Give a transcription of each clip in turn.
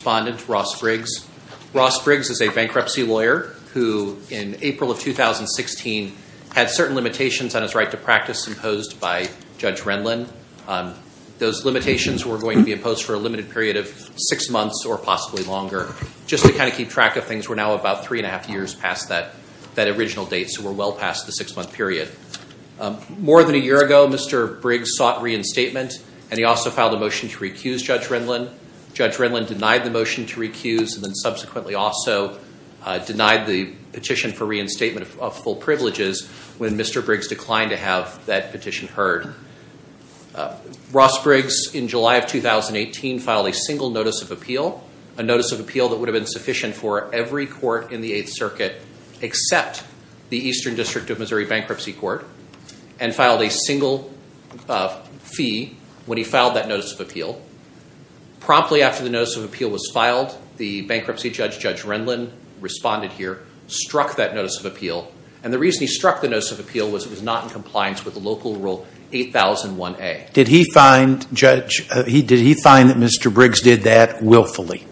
Respondent, Ross Briggs. Ross Briggs is a bankruptcy lawyer who, in April of 2016, had certain limitations on his right to practice imposed by Judge Rendlen. Those limitations were going to be imposed for a limited period of six months or possibly longer, just to kind of keep track of things. We're now about three and a half years past that original date, so we're well past the six-month period. More than a year ago, Mr. Briggs sought reinstatement and he also filed a motion to recuse Judge Rendlen. Judge Rendlen denied the motion to recuse and then subsequently also denied the petition for reinstatement of full privileges when Mr. Briggs declined to have that petition heard. Ross Briggs, in July of 2018, filed a single notice of appeal, a notice of appeal that would have been sufficient for every court in the Eighth Circuit except the Eastern District of Missouri Bankruptcy Court, and he filed that notice of appeal. Promptly after the notice of appeal was filed, the bankruptcy judge, Judge Rendlen, responded here, struck that notice of appeal, and the reason he struck the notice of appeal was it was not in compliance with the local rule 8001A. Did he find, Judge, did he find that Mr. Briggs did that willfully?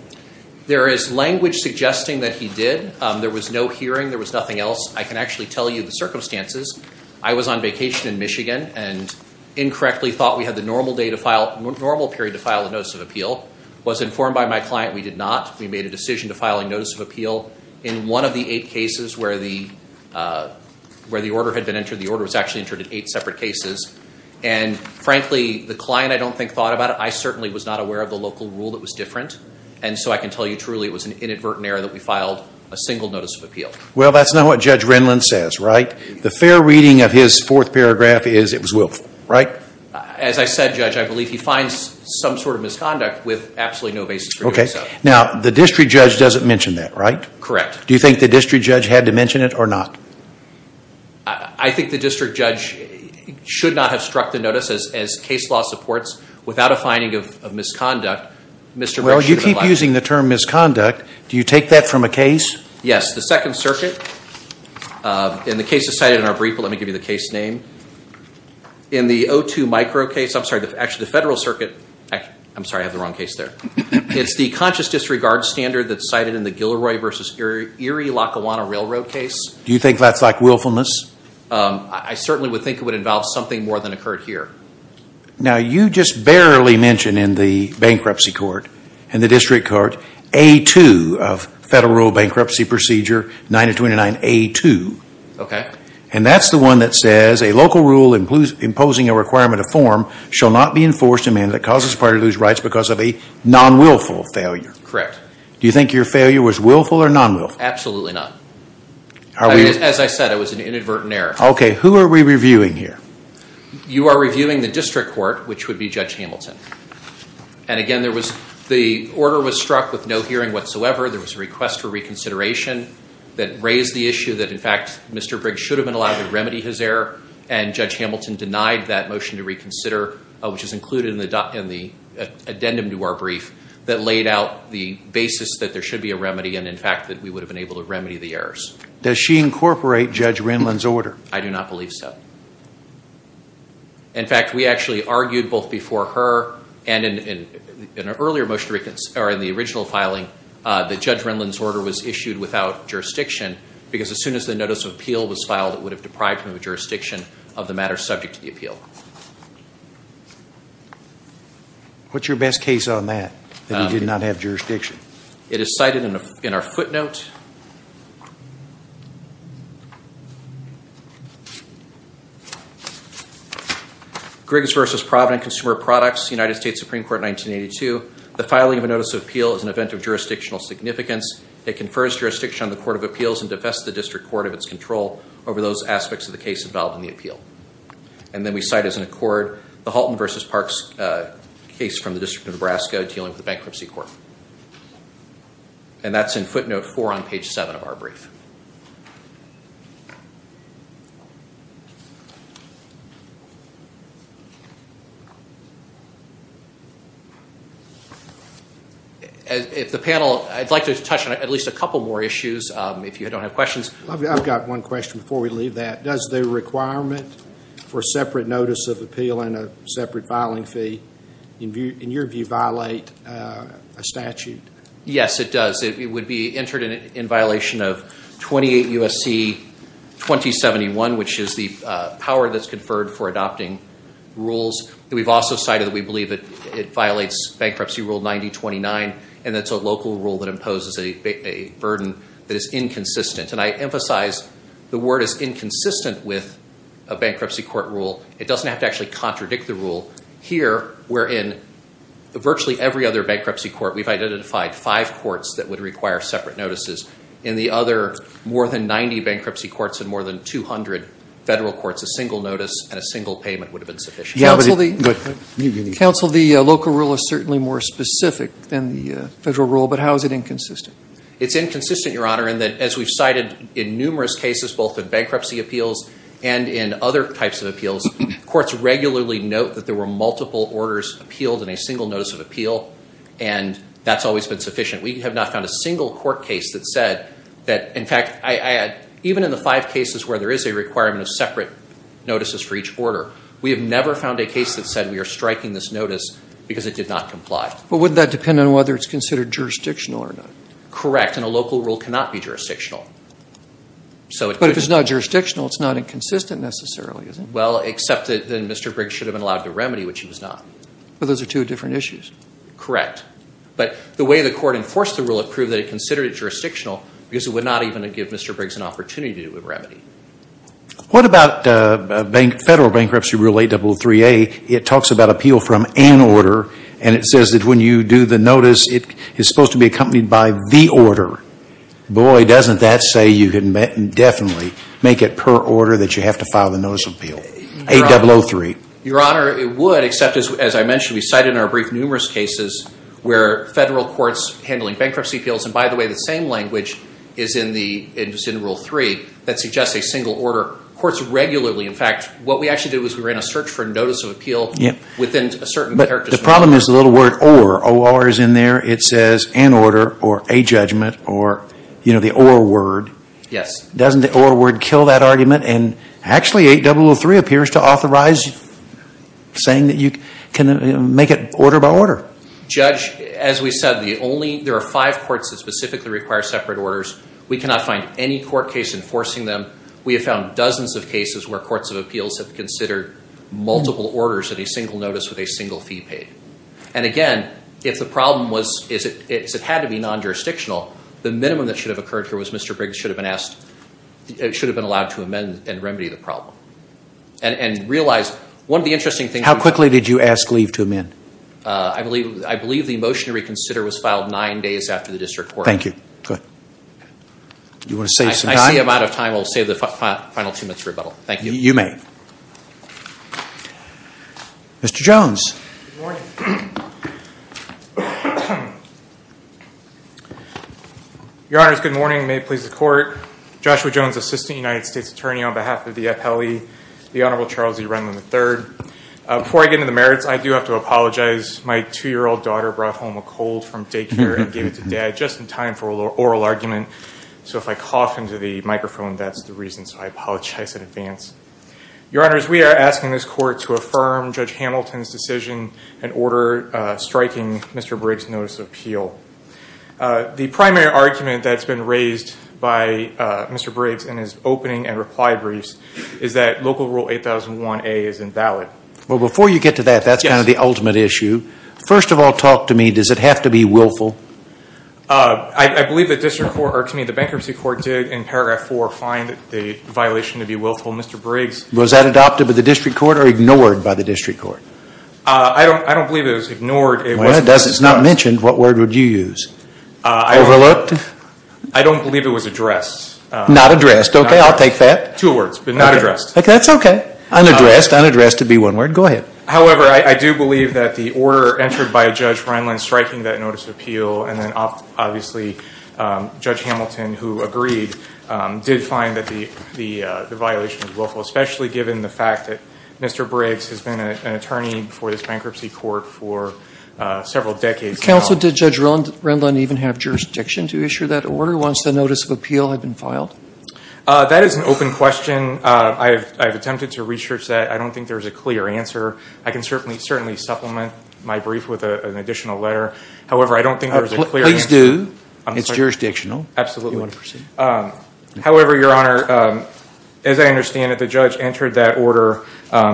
There is language suggesting that he did. There was no hearing. There was nothing else. I can actually tell you the circumstances. I was on vacation in Michigan and incorrectly thought we had the normal day to file, normal period to file a notice of appeal. Was informed by my client we did not. We made a decision to file a notice of appeal in one of the eight cases where the, where the order had been entered. The order was actually entered in eight separate cases, and frankly, the client I don't think thought about it. I certainly was not aware of the local rule that was different, and so I can tell you truly it was an inadvertent error that we filed a single notice of appeal. Well that's not what Judge Rendlen says, right? The fair reading of his fourth paragraph is it was willful, right? As I said, Judge, I believe he finds some sort of misconduct with absolutely no basis for doing so. Now the district judge doesn't mention that, right? Correct. Do you think the district judge had to mention it or not? I think the district judge should not have struck the notice as case law supports without a finding of misconduct, Mr. Briggs should have not. Well you keep using the term misconduct. Do you take that from a case? Yes, the Second Circuit, and the case is cited in our brief, let me give you the case name. In the O2 micro case, I'm sorry, actually the Federal Circuit, I'm sorry I have the wrong case there. It's the conscious disregard standard that's cited in the Gilroy v. Erie Lackawanna Railroad case. Do you think that's like willfulness? I certainly would think it would involve something more than occurred here. Now you just barely mention in the bankruptcy court, in the district court, A2 of federal bankruptcy procedure 929A2, and that's the one that says a local rule imposing a requirement of form shall not be enforced in manner that causes a party to lose rights because of a non-willful failure. Correct. Do you think your failure was willful or non-willful? Absolutely not. As I said, it was an inadvertent error. Okay, who are we reviewing here? You are reviewing the district court, which would be Judge Hamilton. And again, the order was struck with no hearing whatsoever. There was a request for reconsideration that raised the issue that, in fact, Mr. Briggs should have been allowed to remedy his error. And Judge Hamilton denied that motion to reconsider, which is included in the addendum to our brief that laid out the basis that there should be a remedy and, in fact, that we would have been able to remedy the errors. Does she incorporate Judge Renlund's order? I do not believe so. In fact, we actually argued both before her and in an earlier motion or in the original filing that Judge Renlund's order was issued without jurisdiction because as soon as the notice of appeal was filed, it would have deprived him of jurisdiction of the matter subject to the appeal. What's your best case on that, that he did not have jurisdiction? It is cited in our footnote. Briggs v. Providence Consumer Products, United States Supreme Court 1982, the filing of a notice of appeal is an event of jurisdictional significance. It confers jurisdiction on the Court of Appeals and defests the District Court of its control over those aspects of the case involved in the appeal. And then we cite as an accord the Halton v. Parks case from the District of Nebraska dealing with the bankruptcy court. And that's in footnote four on page seven of our brief. I'd like to touch on at least a couple more issues if you don't have questions. I've got one question before we leave that. Does the requirement for separate notice of appeal and a separate filing fee, in your view, violate a statute? Yes, it does. It would be entered in violation of 28 U.S.C. 2071, which is the power that's validates Bankruptcy Rule 9029, and it's a local rule that imposes a burden that is inconsistent. And I emphasize the word is inconsistent with a bankruptcy court rule. It doesn't have to actually contradict the rule. Here, we're in virtually every other bankruptcy court. We've identified five courts that would require separate notices. In the other, more than 90 bankruptcy courts and more than 200 federal courts, a single notice and a single payment would have been sufficient. Counsel, the local rule is certainly more specific than the federal rule, but how is it inconsistent? It's inconsistent, Your Honor, in that, as we've cited in numerous cases, both in bankruptcy appeals and in other types of appeals, courts regularly note that there were multiple orders appealed in a single notice of appeal, and that's always been sufficient. We have not found a single court case that said that, in fact, even in the five cases where there is a requirement of separate notices for each order, we have never found a case that said we are striking this notice because it did not comply. But wouldn't that depend on whether it's considered jurisdictional or not? Correct. And a local rule cannot be jurisdictional. So it could be. But if it's not jurisdictional, it's not inconsistent necessarily, is it? Well, except that Mr. Briggs should have been allowed to remedy, which he was not. But those are two different issues. Correct. But the way the court enforced the rule, it proved that it considered it jurisdictional because it would not even give Mr. Briggs an opportunity to do a remedy. What about Federal Bankruptcy Rule 803A? It talks about appeal from an order, and it says that when you do the notice, it is supposed to be accompanied by the order. Boy, doesn't that say you can definitely make it per order that you have to file the notice of appeal? Your Honor, it would, except, as I mentioned, we cited in our brief numerous cases where Federal courts handling bankruptcy appeals, and by the way, the same language is in Rule 3 that suggests a single order. Courts regularly, in fact, what we actually did was we ran a search for notice of appeal within a certain characteristic. But the problem is the little word or. Or is in there. It says an order or a judgment or the or word. Doesn't the or word kill that argument? And actually, 8003 appears to authorize saying that you can make it order by order. Judge, as we said, there are five courts that specifically require separate orders. We cannot find any court case enforcing them. We have found dozens of cases where courts of appeals have considered multiple orders at a single notice with a single fee paid. And again, if the problem was it had to be non-jurisdictional, the minimum that should have occurred here was Mr. Briggs should have been asked, should have been allowed to amend and remedy the problem. And realize one of the interesting things. How quickly did you ask leave to amend? I believe the motion to reconsider was filed nine days after the district court. Thank you. I see I'm out of time. I'll save the final two minutes for rebuttal. Thank you. Mr. Jones. Your Honor, it's good morning. May it please the court. Joshua Jones, Assistant United States Attorney on behalf of the FLE, the Before I get into the merits, I do have to apologize. My two-year-old daughter brought home a cold from daycare and gave it to dad just in time for an oral argument. So if I cough into the microphone, that's the reason. So I apologize in advance. Your Honors, we are asking this court to affirm Judge Hamilton's decision and order striking Mr. Briggs' notice of appeal. The primary argument that's been raised by Mr. Briggs in his opening and reply briefs is that Local Rule 8001A is invalid. Well, before you get to that, that's kind of the ultimate issue. First of all, talk to me. Does it have to be willful? I believe that the bankruptcy court did in paragraph 4 find the violation to be willful. Mr. Briggs... Was that adopted by the district court or ignored by the district court? I don't believe it was ignored. Well, it's not mentioned. What word would you use? Overlooked? I don't believe it was addressed. Not addressed. Okay, I'll take that. Two words, but not addressed. Okay, that's okay. Unaddressed, unaddressed would be one word. Go ahead. However, I do believe that the order entered by Judge Renlund striking that notice of appeal and then obviously Judge Hamilton, who agreed, did find that the violation was willful, especially given the fact that Mr. Briggs has been an attorney for this bankruptcy court for several decades now. Counsel, did Judge Renlund even have jurisdiction to issue that order once the notice of appeal had been filed? That is an open question. I've attempted to research that. I don't think there's a clear answer. I can certainly supplement my brief with an additional letter. However, I don't think there's a clear answer. Please do. It's jurisdictional. Absolutely. Do you want to proceed? However, Your Honor, as I understand it, the judge entered that order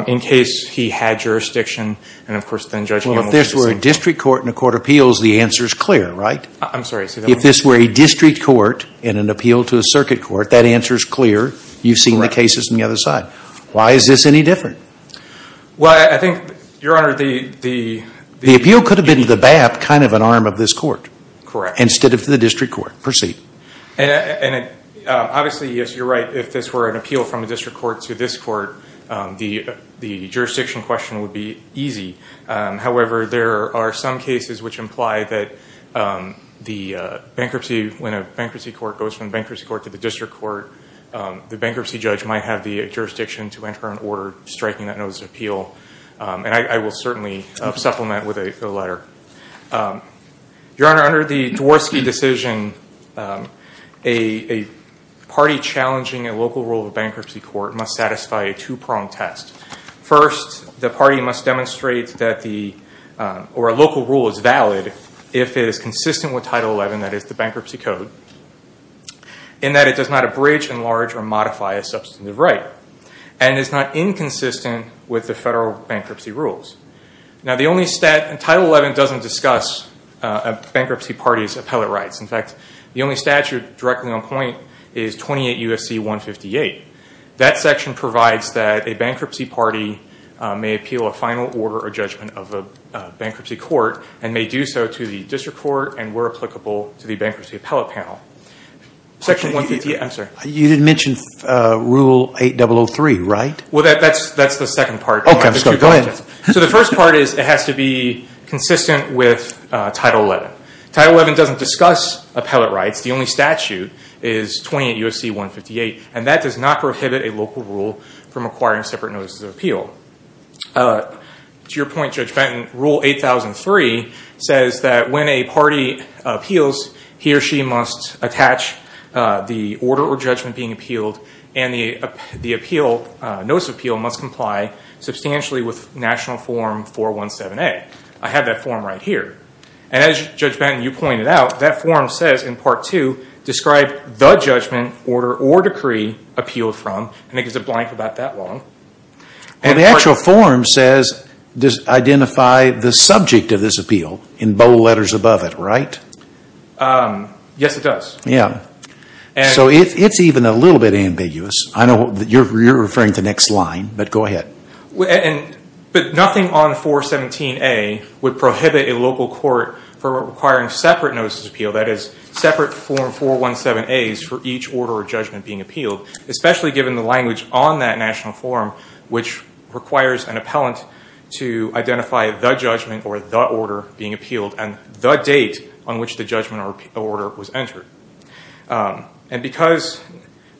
in case he had jurisdiction and of course then Judge Hamilton... Well, if this were a district court and a court of appeals, the answer is clear, right? I'm sorry. If this were a district court in an appeal to a circuit court, that answer is clear. You've seen the cases on the other side. Why is this any different? Well, I think, Your Honor, the... The appeal could have been to the BAP kind of an arm of this court instead of to the district court. Proceed. Obviously, yes, you're right. If this were an appeal from a district court to this court, the jurisdiction question would be easy. However, there are some cases which imply that the bankruptcy, when a bankruptcy court goes from bankruptcy court to the district court, the bankruptcy judge might have the jurisdiction to enter an order striking that notice of appeal. I will certainly supplement with a letter. Your Honor, under the Dvorsky decision, a party challenging a local rule of a bankruptcy court must satisfy a two-pronged test. First, the party must demonstrate that the... Or a local rule is valid if it is consistent with Title XI, that is, the bankruptcy code, in that it does not abridge, enlarge, or modify a substantive right and is not inconsistent with the federal bankruptcy rules. Now, the only stat... Title XI doesn't discuss a bankruptcy party's appellate rights. In fact, the only statute directly on point is 28 U.S.C. 158. That section provides that a bankruptcy party may appeal a final order or judgment of a bankruptcy court and may do so to the district court and where applicable to the bankruptcy appellate panel. Section 158... I'm sorry. You didn't mention Rule 8003, right? Well, that's the second part. Okay, I'm sorry. Go ahead. So the first part is it has to be consistent with Title XI. Title XI doesn't discuss appellate rights. The only statute is 28 U.S.C. 158, and that does not prohibit a local rule from acquiring separate notices of appeal. To your point, Judge Benton, Rule 8003 says that when a party appeals, he or she must attach the order or judgment being appealed, and the notice of appeal must comply substantially with National Form 417A. I have that form right here. As Judge Benton, you pointed out, that form says in Part 2, describe the judgment, order, or decree appealed from, and it gives a blank about that long. The actual form says, identify the subject of this appeal in bold letters above it, right? Yes, it does. So it's even a little bit ambiguous. I know you're referring to the next line, but go ahead. Nothing on 417A would prohibit a local court from acquiring separate notices of appeal, that is, separate Form 417As for each order or judgment being appealed, especially given the language on that National Form, which requires an appellant to identify the judgment or the order being appealed, and the date on which the judgment or order was entered. Because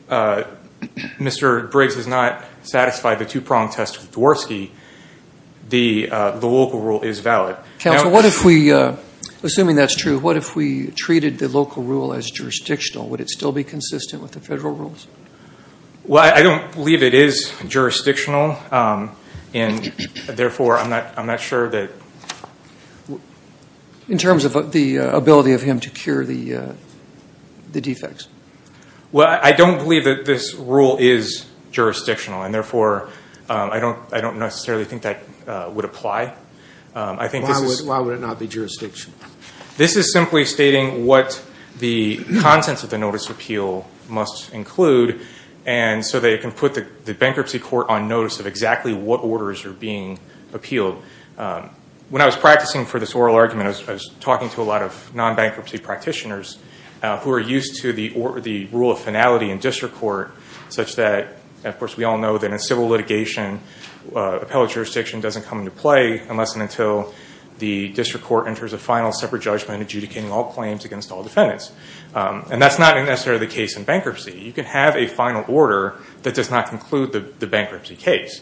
Mr. Briggs has not satisfied the two-pronged test of Dvorsky, the local rule is valid. Counsel, assuming that's true, what if we treated the local rule as jurisdictional? Would it still be consistent with the federal rules? Well, I don't believe it is jurisdictional, and therefore I'm not sure that... In terms of the ability of him to cure the defects? Well, I don't believe that this rule is jurisdictional, and therefore I don't necessarily think that would apply. Why would it not be jurisdictional? This is simply stating what the contents of the notice of appeal must include, and so they can put the bankruptcy court on notice of exactly what orders are being appealed. When I was practicing for this oral argument, I was talking to a lot of non-bankruptcy practitioners who are used to the rule of finality in district court, such that, of course, we all know that civil litigation, appellate jurisdiction doesn't come into play unless and until the district court enters a final separate judgment adjudicating all claims against all defendants. That's not necessarily the case in bankruptcy. You can have a final order that does not conclude the bankruptcy case.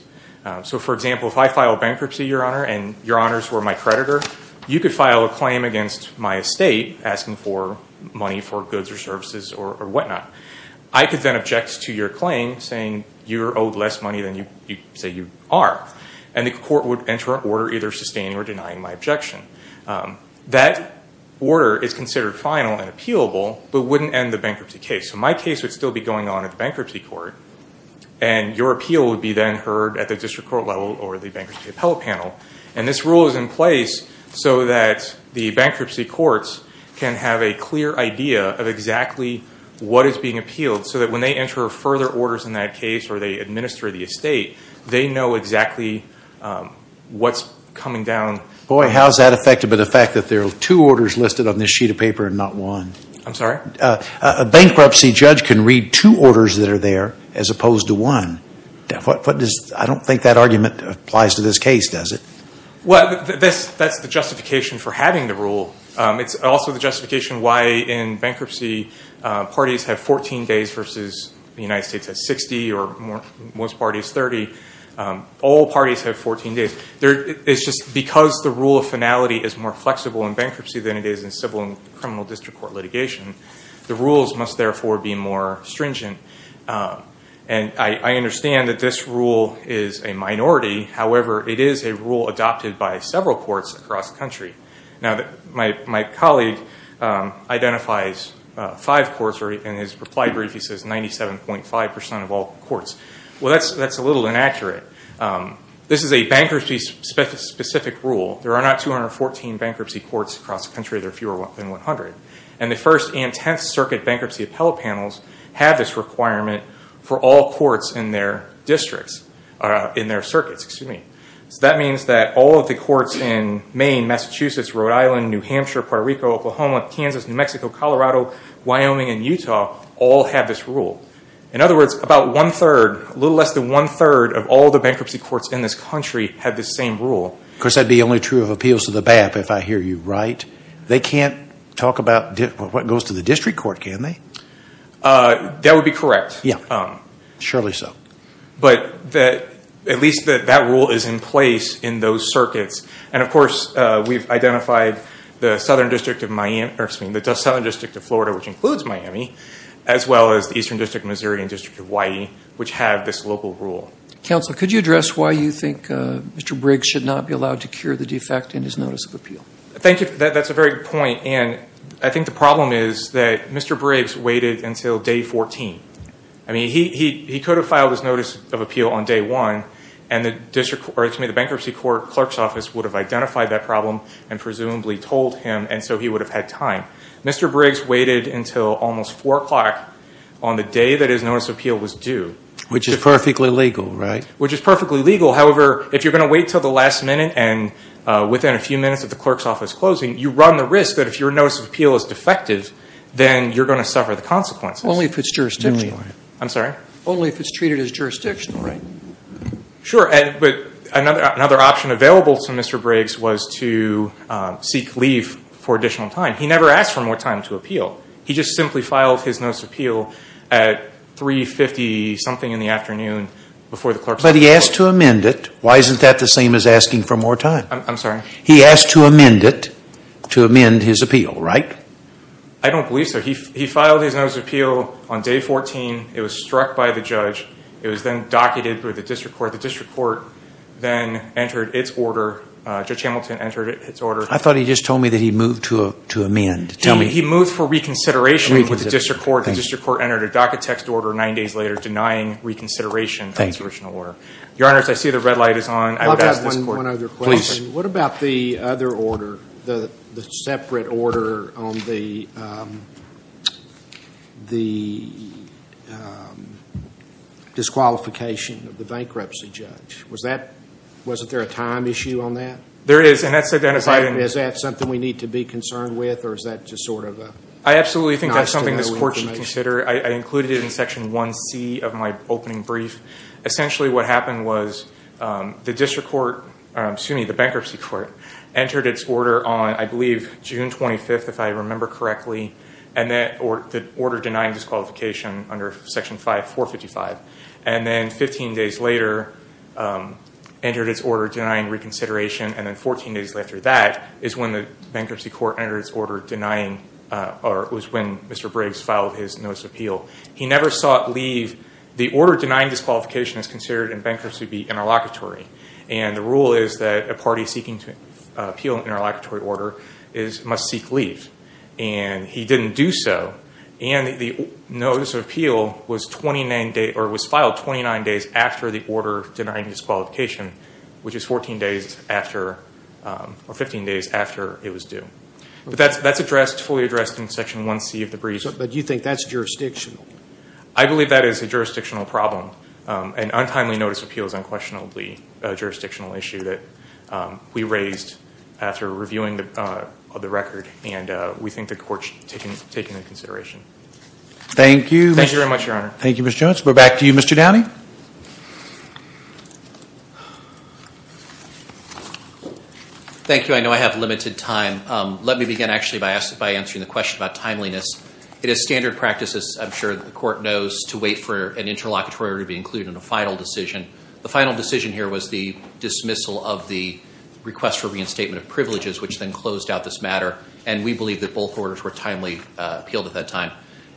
For example, if I filed bankruptcy, Your Honor, and Your Honors were my creditor, you could file a claim against my estate asking for money for goods or services or whatnot. I could then object to your claim saying you're owed less money than you say you are, and the court would enter an order either sustaining or denying my objection. That order is considered final and appealable, but wouldn't end the bankruptcy case. My case would still be going on at the bankruptcy court, and your appeal would be then heard at the district court level or the bankruptcy appellate panel. This rule is in place so that the bankruptcy courts can have a clear idea of exactly what is being appealed so that when they enter further orders in that case or they administer the estate, they know exactly what's coming down. Boy, how is that effective in the fact that there are two orders listed on this sheet of paper and not one? I'm sorry? A bankruptcy judge can read two orders that are there as opposed to one. I don't think that argument applies to this case, does it? That's the justification for having the rule. It's also the justification why in bankruptcy, parties have 14 days versus the United States has 60 or most parties 30. All parties have 14 days. It's just because the rule of finality is more flexible in bankruptcy than it is in civil and criminal district court litigation, the rules must therefore be more stringent. I understand that this rule is a minority, however, it is a rule adopted by several courts across the country. My colleague identifies five courts and in his reply brief, he says 97.5% of all courts. That's a little inaccurate. This is a bankruptcy-specific rule. There are not 214 bankruptcy courts across the country, there are fewer than 100. The First and Tenth Circuit Bankruptcy Appellate Panels have this requirement for all courts in their circuits. That means that all of the courts in Maine, Massachusetts, Rhode Island, New Hampshire, Puerto Rico, Oklahoma, Kansas, New Mexico, Colorado, Wyoming, and Utah all have this rule. In other words, a little less than one-third of all the bankruptcy courts in this country have this same rule. Of course, that would be only true of appeals to the BAP, if I hear you right. They can't talk about what goes to the district court, can they? That would be correct. Surely so. But at least that rule is in place in those circuits. Of course, we've identified the Southern District of Florida, which includes Miami, as well as the Eastern District of Missouri and the District of Hawaii, which have this local rule. Counsel, could you address why you think Mr. Briggs should not be allowed to cure the defect in his notice of appeal? That's a very good point. I think the problem is that Mr. Briggs waited until day 14. I mean, he could have filed his notice of appeal on day 1, and the bankruptcy clerk's office would have identified that problem and presumably told him, and so he would have had time. Mr. Briggs waited until almost 4 o'clock on the day that his notice of appeal was due. Which is perfectly legal, right? Which is perfectly legal. However, if you're going to wait until the last minute and within a few minutes of the clerk's office closing, you run the risk that if your notice of appeal is defective, then you're going to suffer the consequences. Only if it's jurisdictional. I'm sorry? Only if it's treated as jurisdictional, right? Sure, but another option available to Mr. Briggs was to seek leave for additional time. He never asked for more time to appeal. He just simply filed his notice of appeal at 3.50 something in the afternoon before the clerk's office closed. But he asked to amend it. Why isn't that the same as asking for more time? I'm sorry? He asked to amend it to amend his appeal, right? I don't believe so. He filed his notice of appeal on day 14. It was struck by the judge. It was then docketed with the district court. The district court then entered its order. Judge Hamilton entered its order. I thought he just told me that he moved to amend. Tell me. He moved for reconsideration with the district court. The district court entered a docket text order nine days later denying reconsideration of the jurisdictional order. Thank you. Your honors, I see the red light is on. I've asked this court. I've got one other question. Please. What about the other order, the separate order on the disqualification of the bankruptcy judge? Wasn't there a time issue on that? There is. And that's identified in- Is that something we need to be concerned with or is that just sort of a- I absolutely think that's something this court should consider. I included it in section 1C of my opening brief. Essentially what happened was the bankruptcy court entered its order on, I believe, June 25th, if I remember correctly, the order denying disqualification under section 455. And then 15 days later entered its order denying reconsideration and then 14 days after that is when the bankruptcy court entered its order denying or it was when Mr. Briggs filed his notice of appeal. He never saw it leave. The order denying disqualification is considered in bankruptcy to be interlocutory. And the rule is that a party seeking to appeal an interlocutory order must seek leave. And he didn't do so. And the notice of appeal was 29 days or was filed 29 days after the order denying disqualification, which is 14 days after or 15 days after it was due. That's addressed, fully addressed in section 1C of the brief. But you think that's jurisdictional? I believe that is a jurisdictional problem. An untimely notice of appeal is unquestionably a jurisdictional issue that we raised after reviewing the record and we think the court should take it into consideration. Thank you. Thank you very much, Your Honor. Thank you, Mr. Jones. We're back to you, Mr. Downey. Thank you. I know I have limited time. Let me begin, actually, by answering the question about timeliness. It is standard practice, as I'm sure the court knows, to wait for an interlocutory order to be included in a final decision. The final decision here was the dismissal of the request for reinstatement of privileges, which then closed out this matter. And we believe that both orders were timely appealed at that time.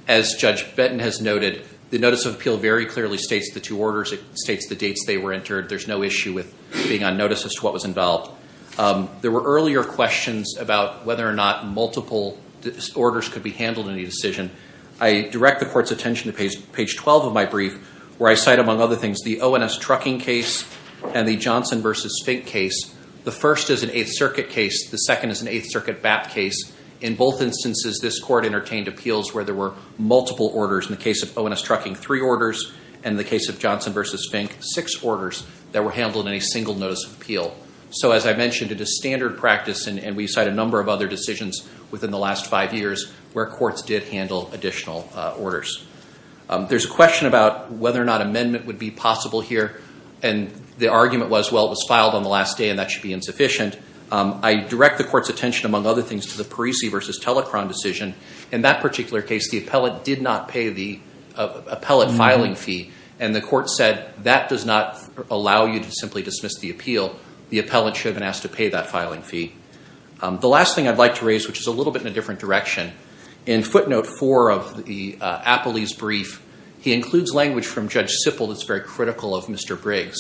As Judge Benton has noted, the notice of appeal very clearly states the two orders. It states the dates they were entered. There's no issue with being on notice as to what was involved. There were earlier questions about whether or not multiple orders could be handled in the decision. I direct the court's attention to page 12 of my brief, where I cite, among other things, the O&S trucking case and the Johnson v. Fink case. The first is an Eighth Circuit case. The second is an Eighth Circuit BAP case. In both instances, this court entertained appeals where there were multiple orders. In the case of O&S trucking, three orders. In the case of Johnson v. Fink, six orders that were handled in a single notice of appeal. So as I mentioned, it is standard practice, and we cite a number of other decisions within the last five years, where courts did handle additional orders. There's a question about whether or not amendment would be possible here. And the argument was, well, it was filed on the last day, and that should be insufficient. I direct the court's attention, among other things, to the Parisi v. Telecron decision. In that particular case, the appellate did not pay the appellate filing fee. And the court said, that does not allow you to simply dismiss the appeal. The appellate should have been asked to pay that filing fee. The last thing I'd like to raise, which is a little bit in a different direction. In footnote four of the Apolese brief, he includes language from Judge Sippel that's very critical of Mr. Briggs.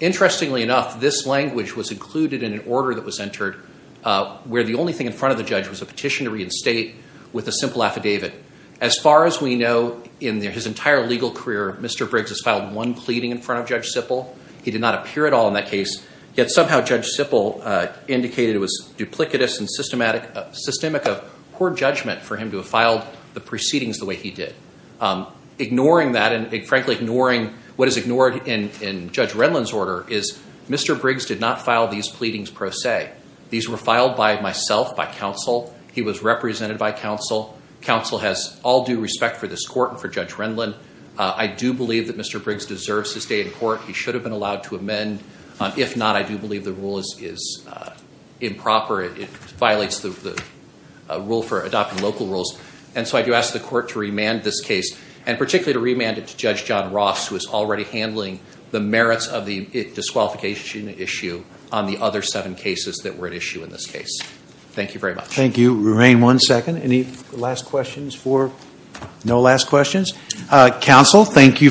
Interestingly enough, this language was included in an order that was entered where the only thing in front of the judge was a petition to reinstate with a simple affidavit. As far as we know, in his entire legal career, Mr. Briggs has filed one pleading in front of Judge Sippel. He did not appear at all in that case. Yet somehow Judge Sippel indicated it was duplicitous and systemic of poor judgment for him to have filed the proceedings the way he did. Ignoring that, and frankly ignoring what is ignored in Judge Renlund's order, is Mr. Briggs did not file these pleadings per se. These were filed by myself, by counsel. He was represented by counsel. Counsel has all due respect for this court and for Judge Renlund. I do believe that Mr. Briggs deserves to stay in court. He should have been allowed to amend. If not, I do believe the rule is improper. It violates the rule for adopting local rules. And so I do ask the court to remand this case. And particularly to remand it to Judge John Ross, who is already handling the merits of the disqualification issue on the other seven cases that were at issue in this case. Thank you very much. Thank you. Remain one second. Any last questions for? No last questions? Counsel, thank you for